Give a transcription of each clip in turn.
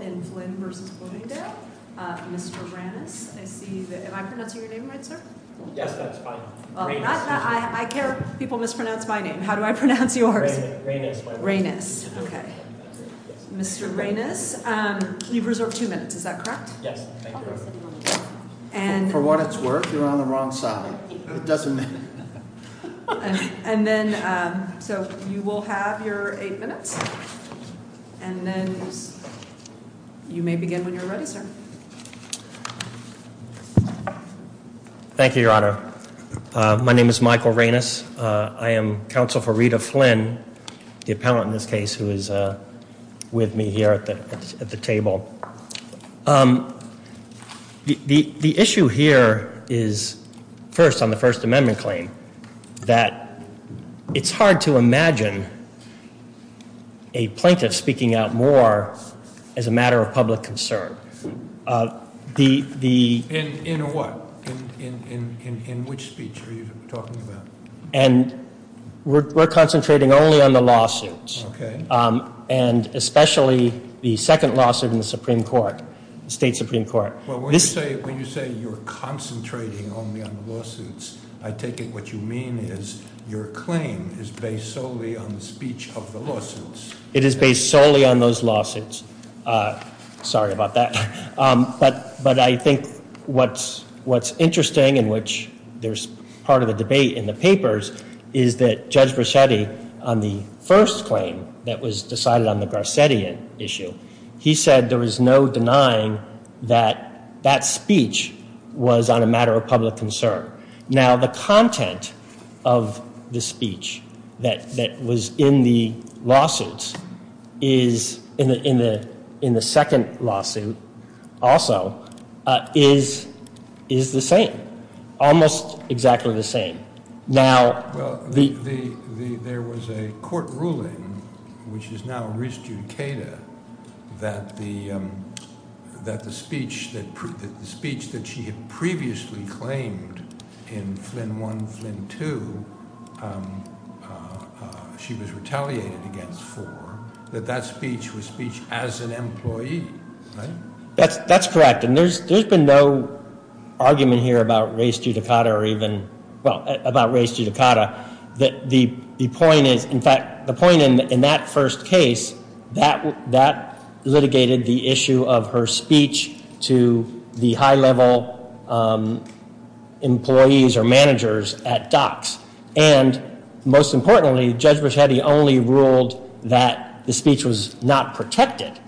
in Flint v. Bloomingdale. Mr. Reynes, I see that, am I pronouncing your name right, sir? Yes, that's fine. Reynes. I care people mispronounce my name. How do I pronounce yours? Reynes. Reynes, okay. Mr. Reynes, you've reserved two minutes, is that correct? Yes. For what it's worth, you're on the wrong side. It doesn't matter. And then, so you will have your eight minutes, and then you may begin when you're ready, sir. Thank you, your honor. My name is Michael Reynes. I am counsel for Rita Flynn, the appellant in this case, who is with me here at the table. The issue here is, first, on the First Amendment claim, that it's hard to imagine a plaintiff speaking out more as a matter of public concern. In what? In which speech are you talking about? And we're concentrating only on the lawsuits. Okay. And especially the second lawsuit in the Supreme Court, State Supreme Court. Well, when you say you're concentrating only on the lawsuits, I take it what you mean is your claim is based solely on the speech of the lawsuits. It is based solely on those lawsuits. Sorry about that. But I think what's interesting, in which there's part of the debate in the papers, is that Judge Braccetti, on the first claim that was decided on the Braccetti issue, he said there was no denying that that speech was on a matter of public concern. Now, the content of the speech that was in the lawsuits is, in the second ruling, which is now res judicata, that the speech that she had previously claimed in Flynn 1, Flynn 2, she was retaliated against for, that that speech was speech as an employee. That's correct. And there's been no argument here about res judicata or even, well, the point in that first case, that litigated the issue of her speech to the high-level employees or managers at DOCS. And most importantly, Judge Braccetti only ruled that the speech was not protected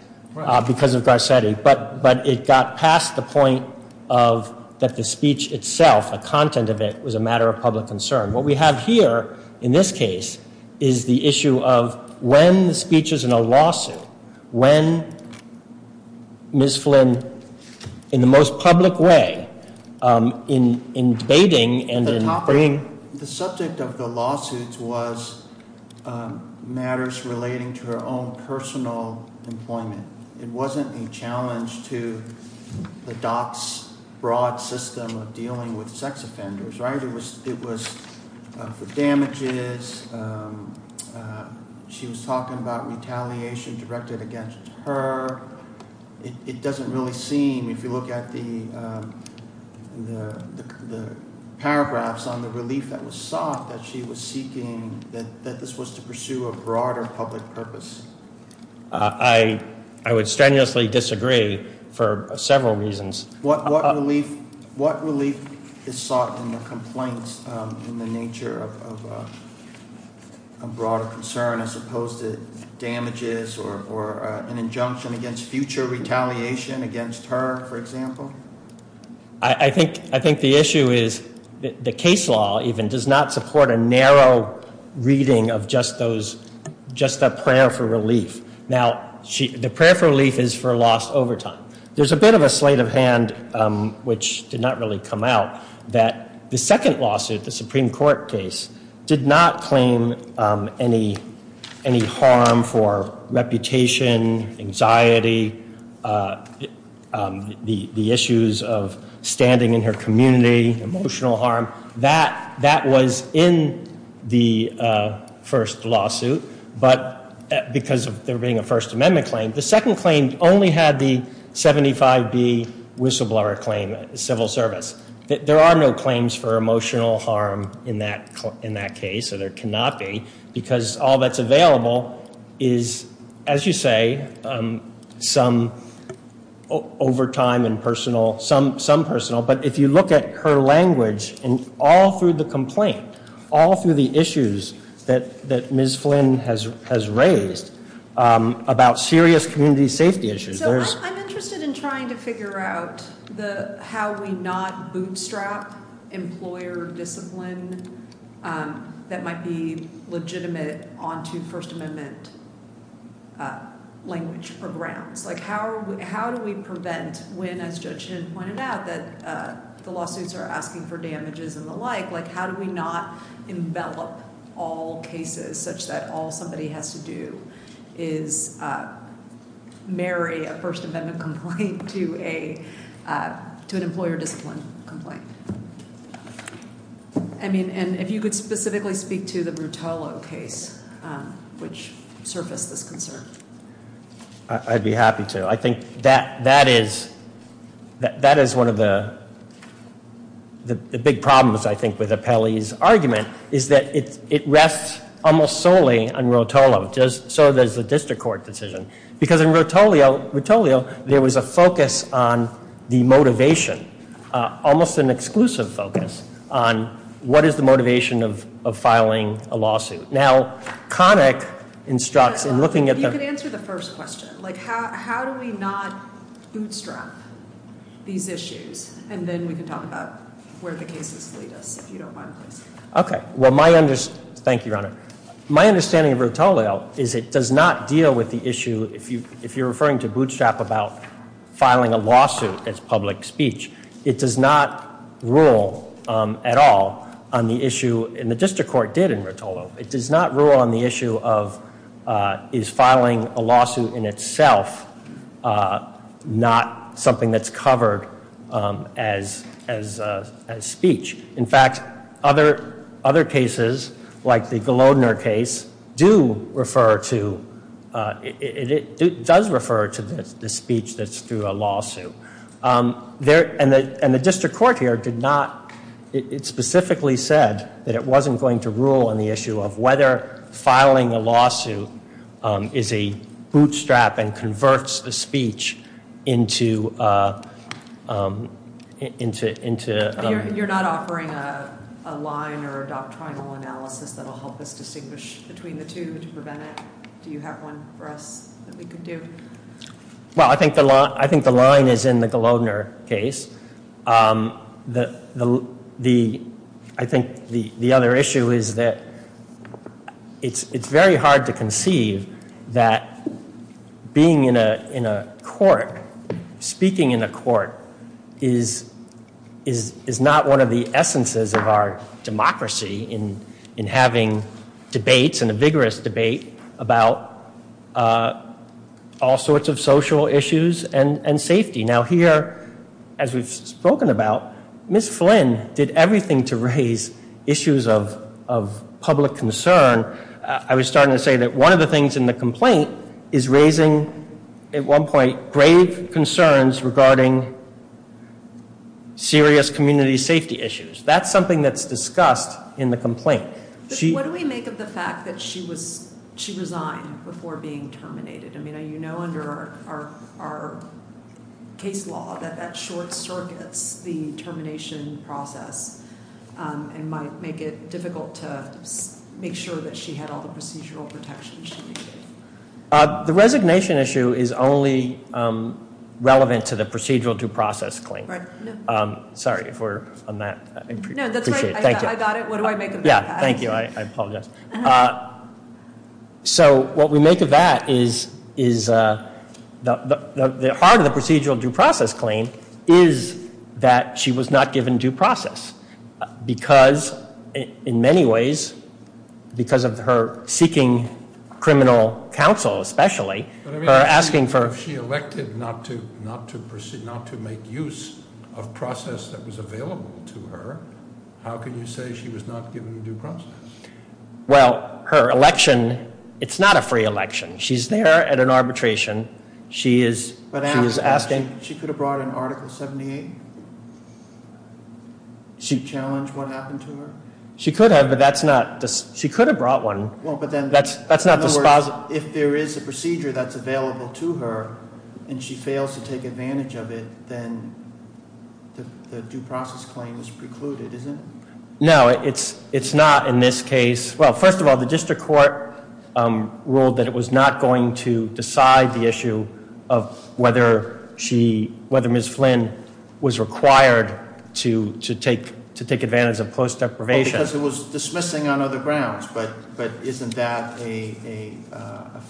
because of Braccetti. But it got past the point of that the speech itself, the content of it, was a matter of public concern. What we have here, in this case, is the issue of when the speech is in a lawsuit, when Ms. Flynn, in the most public way, in debating and in bringing... The topic, the subject of the lawsuits was matters relating to her own personal employment. It wasn't a challenge to the DOCS broad system of dealing with sex offenders, right? It was for damages. She was talking about retaliation directed against her. It doesn't really seem, if you look at the paragraphs on the relief that was sought that she was seeking, that this was to pursue a broader public purpose. I would strenuously disagree for several reasons. What relief is sought in the complaints in the nature of a broader concern as opposed to damages or an injunction against future retaliation against her, for example? I think the issue is the case law even does not support a narrow reading of just those, just a prayer for relief. Now, the prayer for relief is for lost overtime. There's a bit of a slate of hand, which did not really come out, that the second lawsuit, the Supreme Court case, did not claim any harm for reputation, anxiety, the issues of standing in her community, emotional harm. That was in the first lawsuit, but because of there being a First Amendment claim, the second claim only had the 75B whistleblower claim, civil service. There are no claims for emotional harm in that case, so there cannot be, because all that's available is, as you say, some overtime and some personal, but if you look at her language, and all through the complaint, all through the issues that Ms. Flynn has raised about serious community safety issues. I'm interested in trying to figure out how we not bootstrap employer discipline that might be legitimate onto First Amendment language or grounds. How do we prevent when, as Judge Hinn pointed out, that the lawsuits are asking for damages and the like, how do we not envelop all cases such that all somebody has to do is marry a First Amendment complaint to an employer discipline complaint? I mean, and if you could specifically speak to the Rotolo case, which surfaced this concern. I'd be happy to. I think that is one of the big problems, I think, with Apelli's argument, is that it rests almost solely on Rotolo. So does the district court decision, because in Rotolio, there was a focus on the motivation, almost an exclusive focus, on what is the motivation of filing a lawsuit. Now, Connick instructs in looking at- If you could answer the first question. How do we not bootstrap these issues, and then we can talk about where the cases lead us, if you don't mind, please. Okay. Well, my- Thank you, Your Honor. My understanding of Rotolio is it does not deal with the issue, if you're referring to bootstrap about filing a lawsuit as public speech. It does not rule at all on the issue, and the district court did in Rotolo. It does not rule on the issue of is filing a lawsuit in itself not something that's covered as speech. In fact, other cases, like the Gelodner case, do refer to- It does refer to the speech that's through a lawsuit. And the district court here did not- It specifically said that it wasn't going to rule on the issue of whether filing a lawsuit is a bootstrap and converts the speech into- You're not offering a line or a doctrinal analysis that'll help us distinguish between the two to prevent it? Do you have one for us that we could do? Well, I think the line is in the Gelodner case. I think the other issue is that it's very hard to conceive that being in a court, speaking in a court, is not one of the essences of our democracy in having debates and a vigorous debate about all sorts of social issues and safety. Now here, as we've spoken about, Ms. Flynn did everything to raise issues of public concern. I was starting to say that one of the things in the complaint is raising, at one point, grave concerns regarding serious community safety issues. That's something that's discussed in the complaint. But what do we make of the fact that she resigned before being terminated? I mean, you know under our case law that that short circuits the termination process and might make it difficult to make sure that she had all the procedural protections she needed. The resignation issue is only relevant to the procedural due process claim. Sorry if we're on that. No, that's right. I got it. What do I make of that? Yeah. Thank you. I apologize. So what we make of that is the heart of the procedural due process claim is that she was not given due process because, in many ways, because of her seeking criminal counsel especially, her asking for... If she elected not to proceed, not to make use of process that was available to her, how can you say she was not given due process? Well, her election, it's not a free election. She's there at an arbitration. She is asking... She could have brought an article 78? She challenged what happened to her? She could have, but that's not... She could have brought one. Well, but then... That's not the... If there is a procedure that's available to her and she fails to take advantage of it, then the due process claim is precluded, isn't it? No, it's not in this case. Well, first of all, the district court ruled that it was not going to whether Ms. Flynn was required to take advantage of close deprivation. Because it was dismissing on other grounds, but isn't that a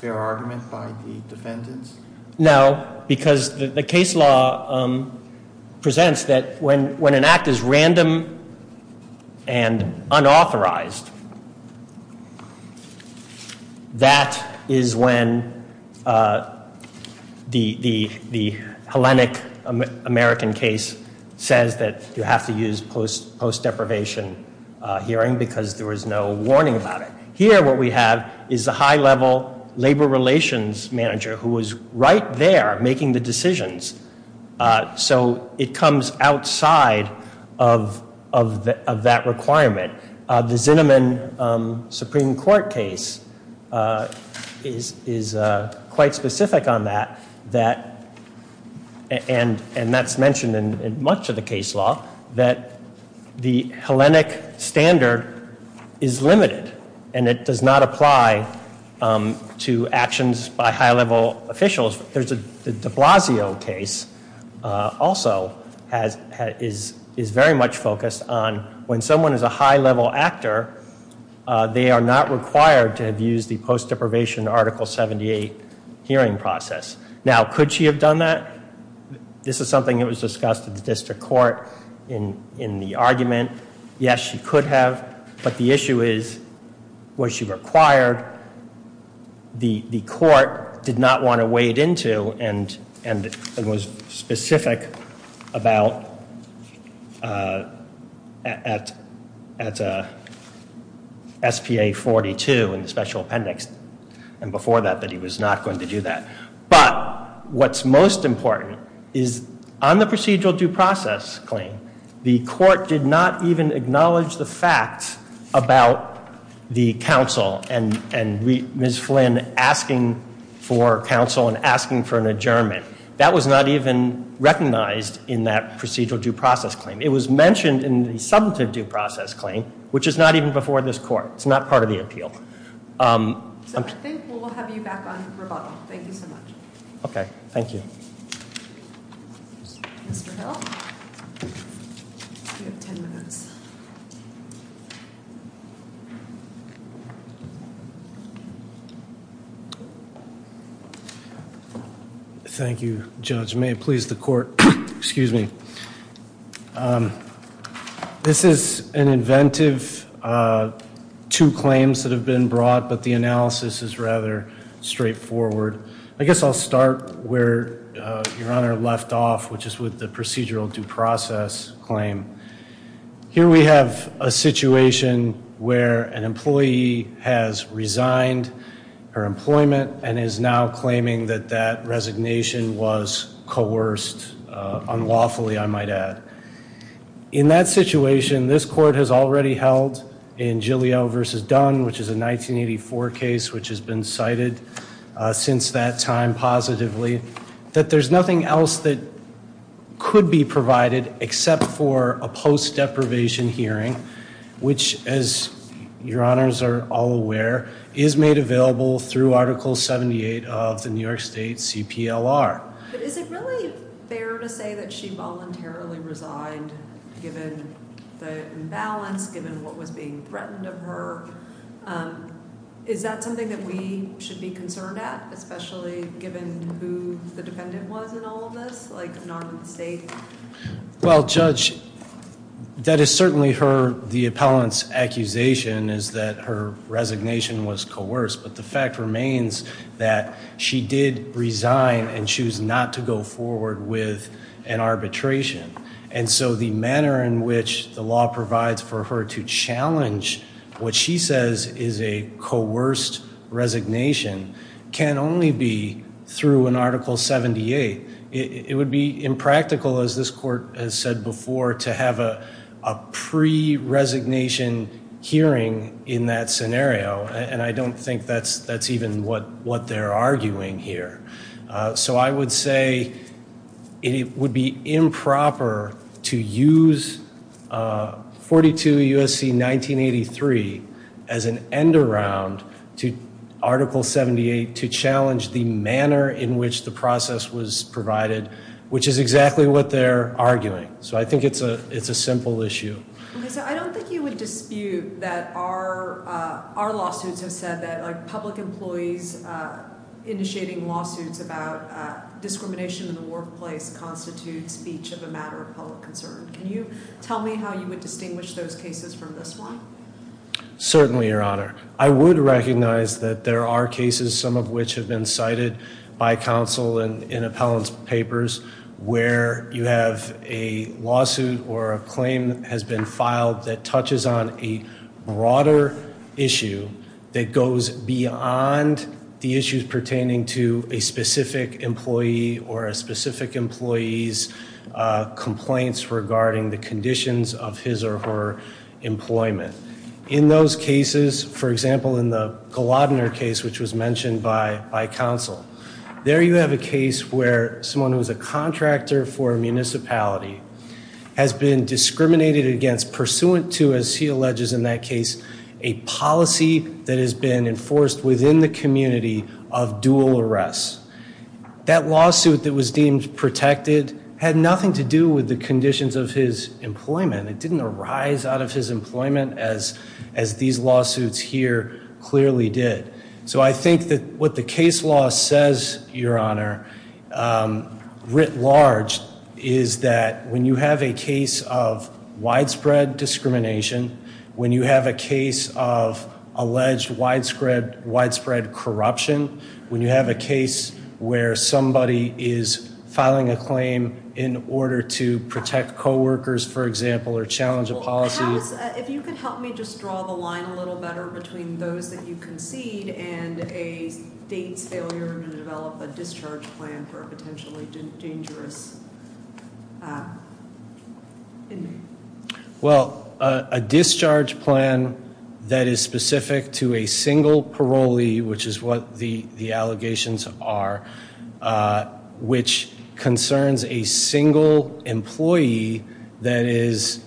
fair argument by the defendants? No, because the case law presents that when an act is random and unauthorized, that is when the Hellenic-American case says that you have to use post-deprivation hearing because there was no warning about it. Here, what we have is a high-level labor relations manager who was right there making the decisions. So it comes outside of that requirement. The Zinnemann Supreme Court case is quite specific on that, and that's mentioned in much of the case law, that the Hellenic standard is limited and it does not apply to actions by high-level officials. The de Blasio case also is very much focused on when someone is a high-level actor, they are not required to have used the post-deprivation Article 78 hearing process. Now, could she have done that? This is something that was discussed at the district court in the argument. Yes, she could have, but the issue is, was she required? The court did not want to wade into and was specific about at SPA-42 in the special appendix, and before that, that he was not going to do that. But what's most important is on the procedural due process claim, the court did not even acknowledge the fact about the counsel and Ms. Flynn asking for counsel and asking for an adjournment. That was not even recognized in that procedural due process claim. It was mentioned in the substantive due process claim, which is not even before this court. It's not part of the appeal. So I think we'll have you back on rebuttal. Thank you so much. Okay, thank you. Mr. Hill, you have 10 minutes. Thank you, Judge. May it please the court, excuse me. This is an inventive two claims that have been brought, but the analysis is rather straightforward. I guess I'll start where Your Honor left off, which is with the procedural due process claim. Here we have a situation where an employee has resigned her employment and is now claiming that that resignation was coerced unlawfully, I might add. In that situation, this court has already held in Giglio versus Dunn, which is a 1984 case which has been cited since that time positively, that there's nothing else that could be provided except for a post deprivation hearing, which as Your Honors are all aware, is made available through Article 78 of the New York State CPLR. But is it really fair to say that she voluntarily resigned given the imbalance, given what was being threatened of her? Is that something that we should be concerned at, especially given who the dependent was in all of this, like Norman State? Well, Judge, that is certainly the appellant's accusation is that her resignation was coerced, but the fact remains that she did resign and choose not to go forward with an arbitration. And so the manner in which the law provides for her to challenge what she says is a coerced resignation can only be through an Article 78. It would be impractical, as this court has said before, to have a pre-resignation hearing in that scenario. And I don't think that's even what they're arguing here. So I would say it would be improper to use 42 U.S.C. 1983 as an end-around to Article 78 to challenge the manner in which the process was provided, which is exactly what they're arguing. So I think it's a simple issue. I don't think you would dispute that our lawsuits have said that public employees initiating lawsuits about discrimination in the workplace constitutes speech of a matter of public concern. Can you tell me how you would distinguish those cases from this one? Certainly, Your Honor. I would recognize that there are cases, some of which have been cited by counsel in appellant's papers, where you have a lawsuit or a claim that has been filed that touches on a broader issue that goes beyond the issues pertaining to a specific employee or a specific employee's complaints regarding the conditions of his or her employment. In those cases, for example, in the Glodner case, which was mentioned by counsel, there you have a case where someone who's a contractor for a municipality has been discriminated against pursuant to, as he alleges in that case, a policy that has been enforced within the community of dual arrest. That lawsuit that was deemed protected had nothing to do with the conditions of his employment. It didn't arise out of his employment as these lawsuits here clearly did. So I think that what the case law says, Your Honor, writ large, is that when you have a case of widespread discrimination, when you have a case of alleged widespread corruption, when you have a case where somebody is filing a claim in order to protect co-workers, for example, or challenge a policy... Well, if you could help me just draw the line a little better between those that you concede and a state's failure to develop a discharge plan for a potentially dangerous... Well, a discharge plan that is specific to a single parolee, which is what the allegations are, which concerns a single employee that is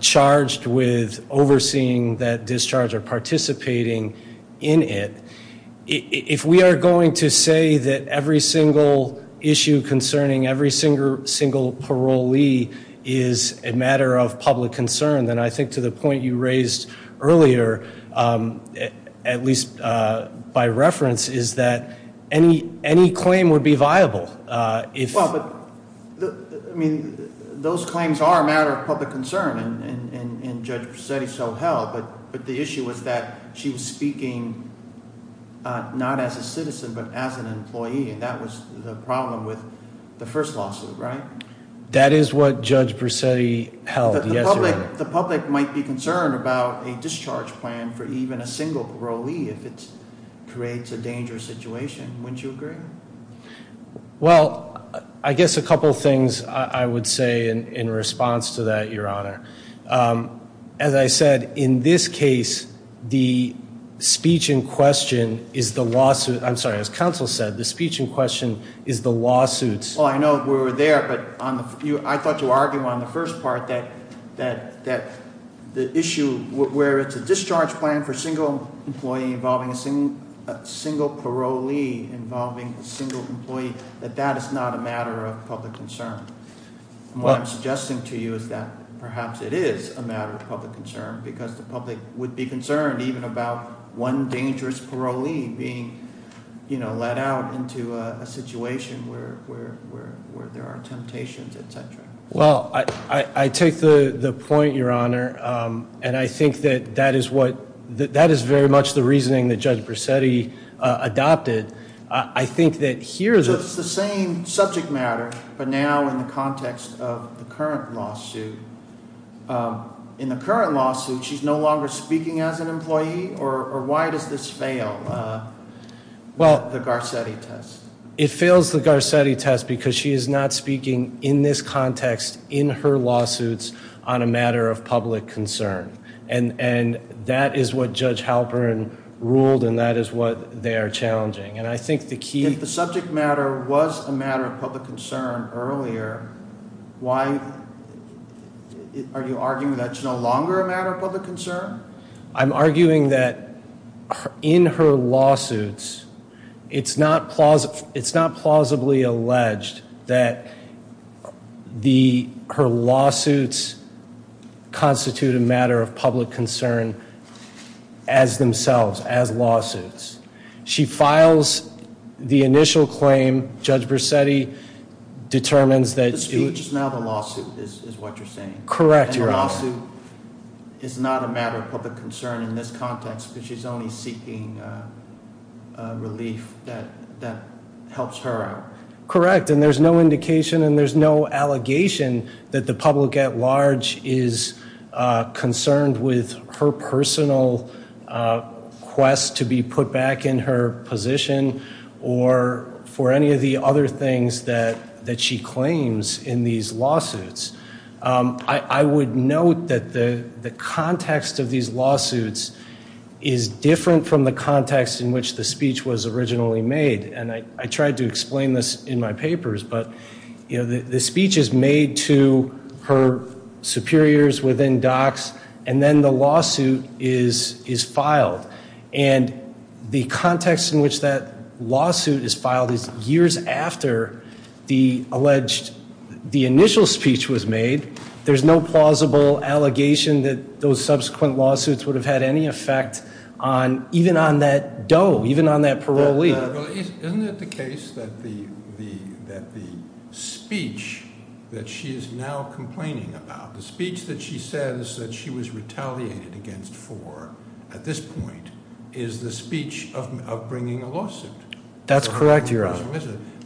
charged with overseeing that discharge or participating in it. If we are going to say that every single issue concerning every single parolee is a matter of public concern, then I think to the point you raised earlier, at least by reference, is that any claim would be viable. I mean, those claims are a matter of public concern, and Judge Presetti so held, but the issue was that she was speaking not as a citizen, but as an employee, and that was the problem with the first lawsuit, right? That is what Judge Presetti held, yes, Your Honor. The public might be concerned about a discharge plan for even a single parolee if it creates a dangerous situation. Wouldn't you agree? Well, I guess a couple of things I would say in response to that, Your Honor. As I said, in this case, the speech in question is the lawsuit. I'm sorry, as counsel said, the speech in question is the lawsuits. Well, I know we were there, but I thought you argued on the first part that the issue where it's a discharge plan for a single employee involving a single parolee involving a single employee, that that is not a matter of public concern. What I'm suggesting to you is that perhaps it is a matter of public concern because the public would be concerned even about one dangerous parolee being, you know, let out into a situation where there are temptations, et cetera. Well, I take the point, Your Honor, and I think that that is very much the reasoning that Judge Presetti adopted. I think that here... So it's the same subject matter, but now in the context of the current lawsuit. In the current lawsuit, she's no longer speaking as an employee, or why does this fail the Garcetti test? It fails the Garcetti test because she is not speaking in this context in her lawsuits on a matter of public concern. And that is what Judge Halperin ruled, and that is what they are challenging. And I think the key... If it was a matter of public concern earlier, why are you arguing that it's no longer a matter of public concern? I'm arguing that in her lawsuits, it's not plausibly alleged that her lawsuits constitute a matter of public concern as themselves, as lawsuits. She files the initial claim. Judge Presetti determines that... The speech is now the lawsuit, is what you're saying. Correct, Your Honor. And the lawsuit is not a matter of public concern in this context because she's only seeking relief that helps her out. Correct, and there's no indication and there's no allegation that the public at large is concerned with her personal quest to be put back in her position or for any of the other things that she claims in these lawsuits. I would note that the context of these lawsuits is different from the context in which the speech was originally made. And I tried to explain this in my papers, but the speech is made to her superiors within docs and then the lawsuit is filed. And the context in which that lawsuit is filed is years after the alleged... The initial speech was made. There's no plausible allegation that those subsequent lawsuits would have had any effect on even on that DOE, even on that parolee. Well, isn't it the case that the speech that she is now complaining about, the speech that she says that she was retaliated against for at this point is the speech of bringing a lawsuit? That's correct, Your Honor.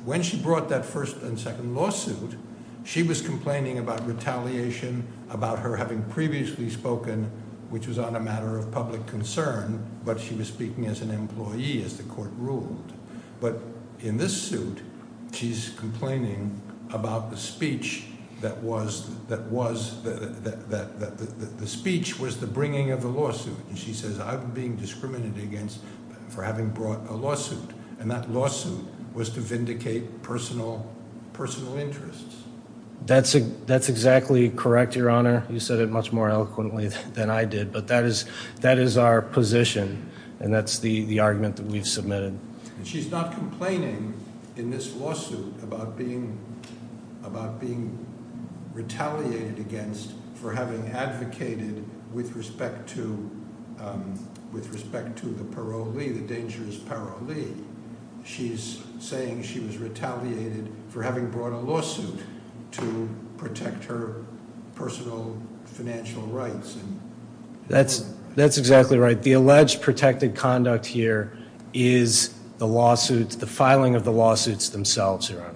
When she brought that first and second lawsuit, she was complaining about retaliation, about her having previously spoken, which was on a matter of public concern, but she was speaking as an employee as the court ruled. But in this suit, she's complaining about the speech that was... The speech was the bringing of the lawsuit. And she says, I'm being discriminated against for having brought a lawsuit. And that lawsuit was to vindicate personal interests. That's exactly correct, Your Honor. You said it much more eloquently than I did, And that's the argument that we've submitted. She's not complaining in this lawsuit about being retaliated against for having advocated with respect to the parolee, the dangerous parolee. She's saying she was retaliated for having brought a lawsuit to protect her personal financial rights. That's exactly right. The alleged protected conduct here is the lawsuits, the filing of the lawsuits themselves, Your Honor.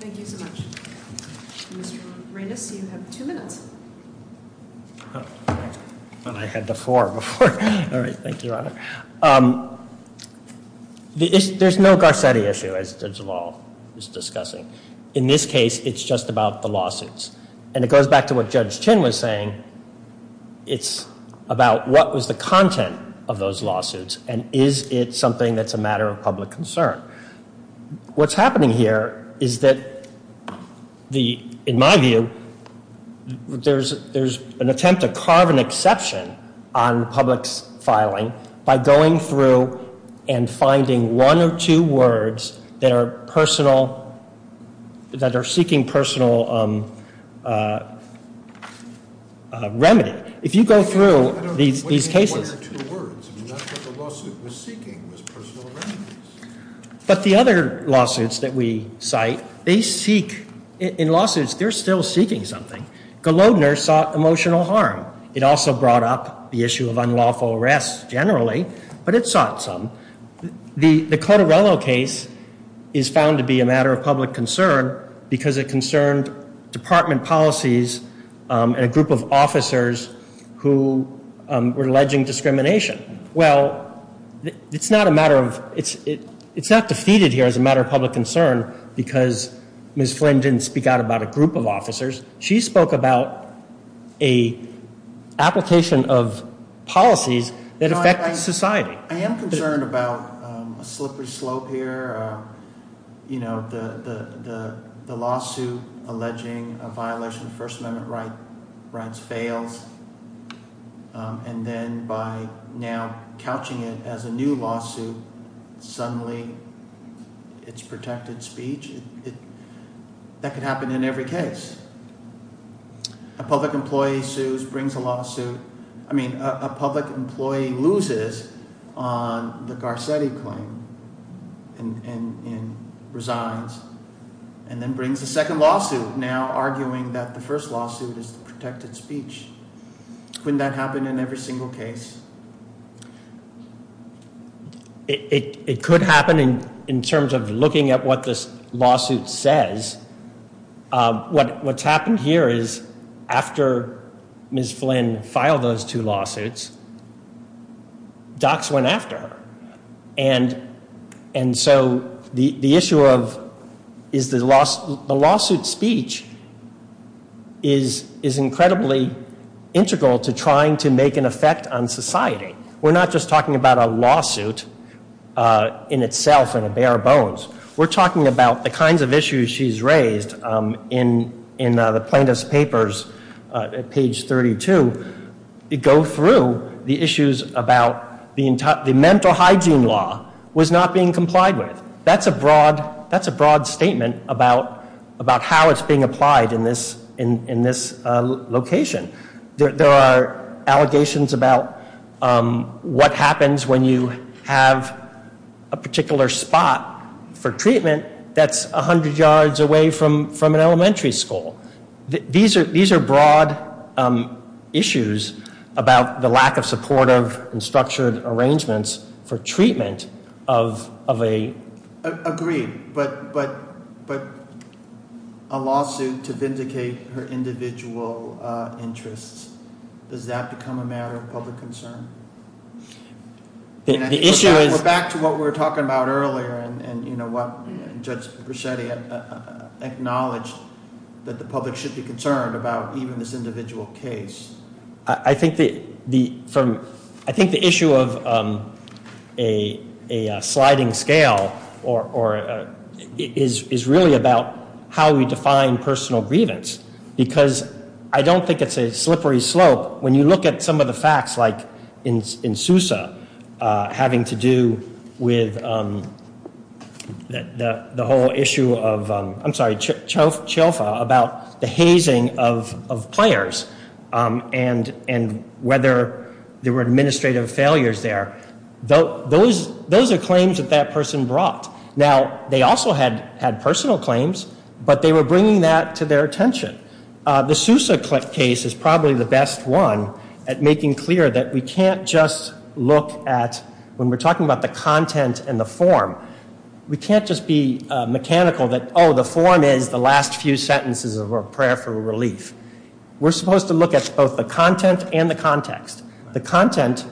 Thank you so much. Mr. Reines, you have two minutes. I thought I had the floor before. All right. Thank you, Your Honor. There's no Garcetti issue, as the law is discussing. In this case, it's just about the lawsuits. And it goes back to what Judge Chin was saying. It's about what was the content of those lawsuits. And is it something that's a matter of public concern? What's happening here is that, in my view, there's an attempt to carve an exception on public's filing by going through and finding one or two words that are seeking personal remedy. If you go through these cases. I don't know what you mean by one or two words. I mean, that's what the lawsuit was seeking, was personal remedies. But the other lawsuits that we cite, they seek. In lawsuits, they're still seeking something. Golodner sought emotional harm. It also brought up the issue of unlawful arrest, generally. But it sought some. The Cottarello case is found to be a matter of public concern, because it concerned department policies and a group of officers who were alleging discrimination. Well, it's not defeated here as a matter of public concern, because Ms. Flynn didn't speak out about a group of officers. She spoke about an application of policies that affect society. I am concerned about a slippery slope here. You know, the lawsuit alleging a violation of First Amendment rights fails. And then by now couching it as a new lawsuit, suddenly it's protected speech. That could happen in every case. A public employee sues, brings a lawsuit. I mean, a public employee loses on the Garcetti claim and resigns. And then brings a second lawsuit, now arguing that the first lawsuit is the protected speech. Couldn't that happen in every single case? It could happen in terms of looking at what this lawsuit says. What's happened here is after Ms. Flynn filed those two lawsuits, docs went after her. And so the issue of is the lawsuit speech is incredibly integral to trying to make an effect on society. We're not just talking about a lawsuit in itself and a bare bones. We're talking about the kinds of issues she's raised in the plaintiff's papers at page 32. They go through the issues about the mental hygiene law was not being complied with. That's a broad statement about how it's being applied in this location. There are allegations about what happens when you have a particular spot for treatment that's 100 yards away from an elementary school. These are broad issues about the lack of supportive and structured arrangements for treatment of a- I agree, but a lawsuit to vindicate her individual interests, does that become a matter of public concern? The issue is- We're back to what we were talking about earlier and what Judge Bruschetti acknowledged that the public should be concerned about even this individual case. I think the issue of a sliding scale is really about how we define personal grievance. Because I don't think it's a slippery slope. When you look at some of the facts like in Sousa, having to do with the whole issue of- I'm sorry, Cioffa, about the hazing of players and whether there were administrative failures there. Those are claims that that person brought. Now, they also had personal claims, but they were bringing that to their attention. The Sousa case is probably the best one at making clear that we can't just look at- When we're talking about the content and the form, we can't just be mechanical that, oh, the form is the last few sentences of our prayer for relief. We're supposed to look at both the content and the context. The content-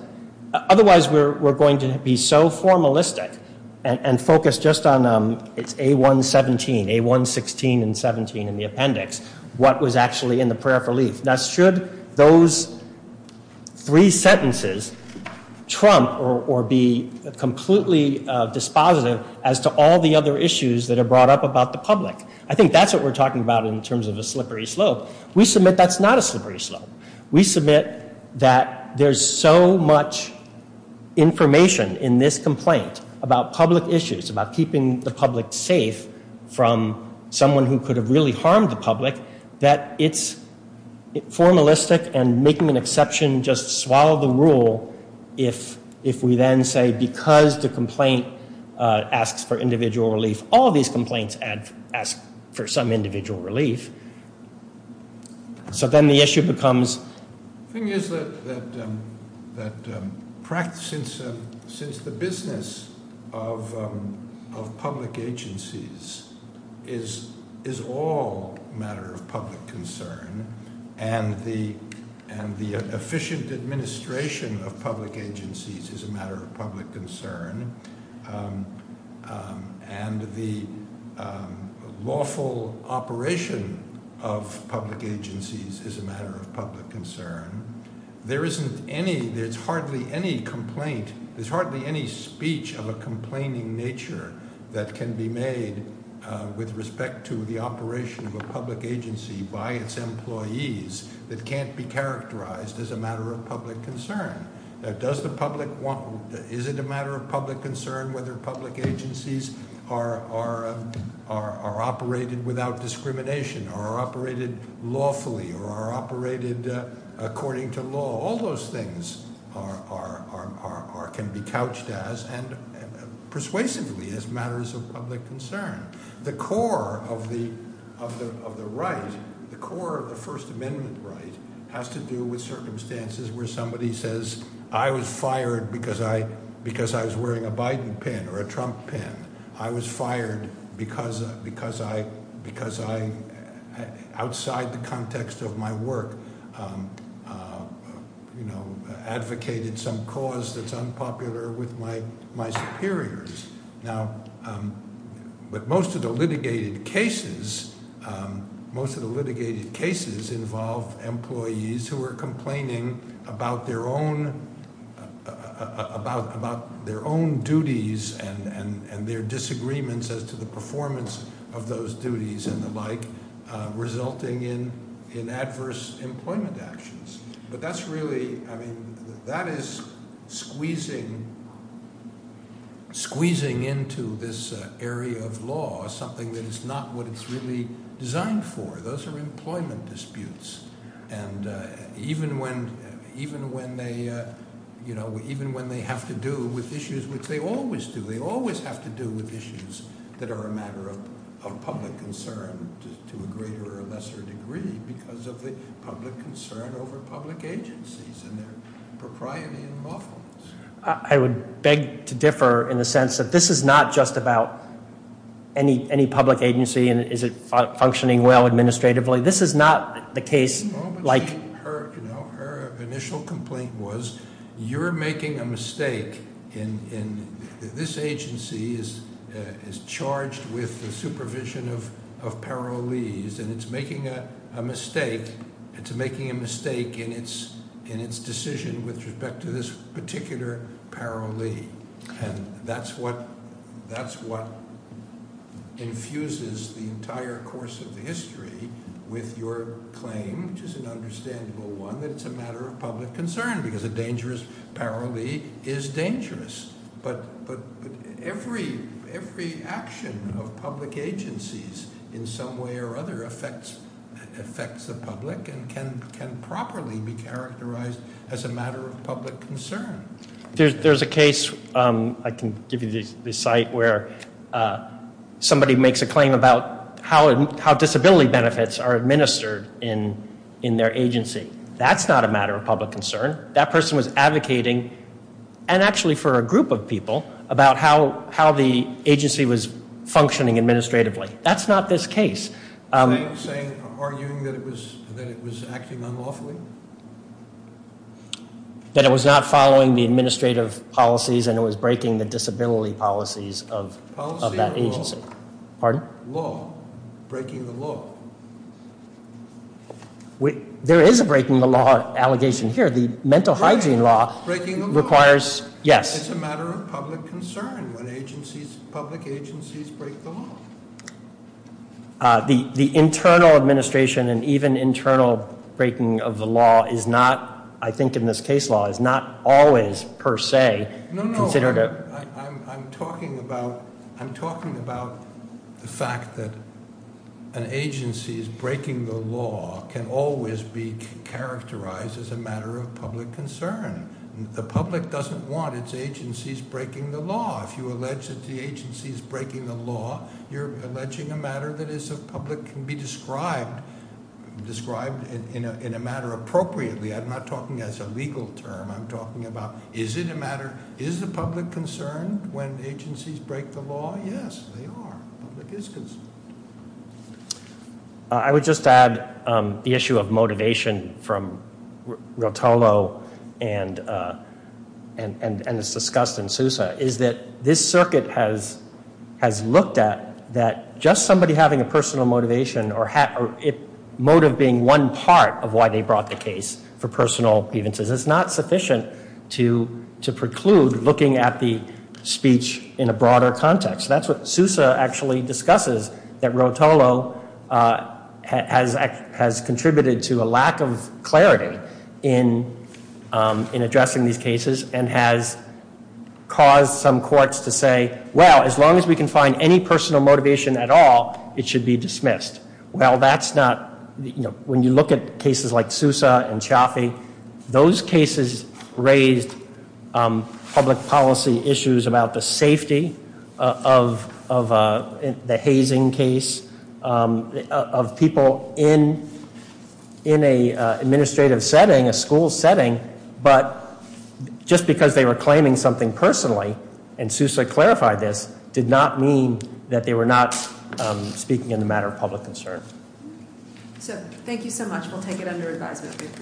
Otherwise, we're going to be so formalistic and focus just on- It's A117, A116 and 17 in the appendix, what was actually in the prayer for relief. Now, should those three sentences trump or be completely dispositive as to all the other issues that are brought up about the public? I think that's what we're talking about in terms of a slippery slope. We submit that's not a slippery slope. We submit that there's so much information in this complaint about public issues, about keeping the public safe from someone who could have really harmed the public that it's formalistic and making an exception just to swallow the rule if we then say, because the complaint asks for individual relief, all these complaints ask for some individual relief. So then the issue becomes- The thing is that since the business of public agencies is all a matter of public concern and the efficient administration of public agencies is a matter of public concern and the lawful operation of public agencies is a matter of public concern, there isn't any- There's hardly any complaint. There's hardly any speech of a complaining nature that can be made with respect to the operation of a public agency by its employees that can't be characterized as a matter of public concern. Is it a matter of public concern whether public agencies are operated without discrimination or are operated lawfully or are operated according to law? All those things can be couched as persuasively as matters of public concern. The core of the right, the core of the First Amendment right has to do with circumstances where somebody says, I was fired because I was wearing a Biden pin or a Trump pin. I was fired because outside the context of my work, I advocated some cause that's unpopular with my superiors. But most of the litigated cases involve employees who are complaining about their own duties and their disagreements as to the performance of those duties and the like resulting in adverse employment actions. But that's really, that is squeezing into this area of law something that is not what it's really designed for. Those are employment disputes. And even when they have to do with issues, which they always do, they always have to do with issues that are a matter of public concern to a greater or lesser degree because of the public concern over public agencies and their propriety and lawfulness. I would beg to differ in the sense that this is not just about any public agency and is it functioning well administratively. This is not the case like- No, but her initial complaint was, you're making a mistake. And this agency is charged with the supervision of parolees and it's making a mistake. It's making a mistake in its decision with respect to this particular parolee. And that's what infuses the entire course of the history with your claim, which is an understandable one, that it's a matter of public concern because a dangerous parolee is dangerous. But every action of public agencies in some way or other affects the public and can properly be characterized as a matter of public concern. There's a case, I can give you the site, where somebody makes a claim about how disability benefits are administered in their agency. That's not a matter of public concern. That person was advocating, and actually for a group of people, about how the agency was functioning administratively. That's not this case. Are you arguing that it was acting unlawfully? That it was not following the administrative policies and it was breaking the disability policies of that agency. Policy or law? Pardon? Law, breaking the law. There is a breaking the law allegation here. The mental hygiene law requires, yes. It's a matter of public concern when public agencies break the law. The internal administration and even internal breaking of the law is not, I think in this case law, is not always per se considered a- No, no, I'm talking about the fact that an agency's breaking the law can always be characterized as a matter of public concern. The public doesn't want its agencies breaking the law. If you allege that the agency is breaking the law, you're alleging a matter that is a public can be described in a matter appropriately. I'm not talking as a legal term. I'm talking about, is it a matter, is the public concerned when agencies break the law? Yes, they are. The public is concerned. I would just add the issue of motivation from Rotolo and it's discussed in Sousa is that this circuit has looked at that just somebody having a personal motivation or motive being one part of why they brought the case for personal grievances, it's not sufficient to preclude looking at the speech in a broader context. That's what Sousa actually discusses that Rotolo has contributed to a lack of clarity in addressing these cases and has caused some courts to say, well, as long as we can find any personal motivation at all, it should be dismissed. Well, that's not, when you look at cases like Sousa and Chaffee, those cases raised public policy issues about the safety of the hazing case of people in an administrative setting, a school setting, but just because they were claiming something personally, and Sousa clarified this, did not mean that they were not speaking in the matter of public concern. We'll take it under advisement. We appreciate it.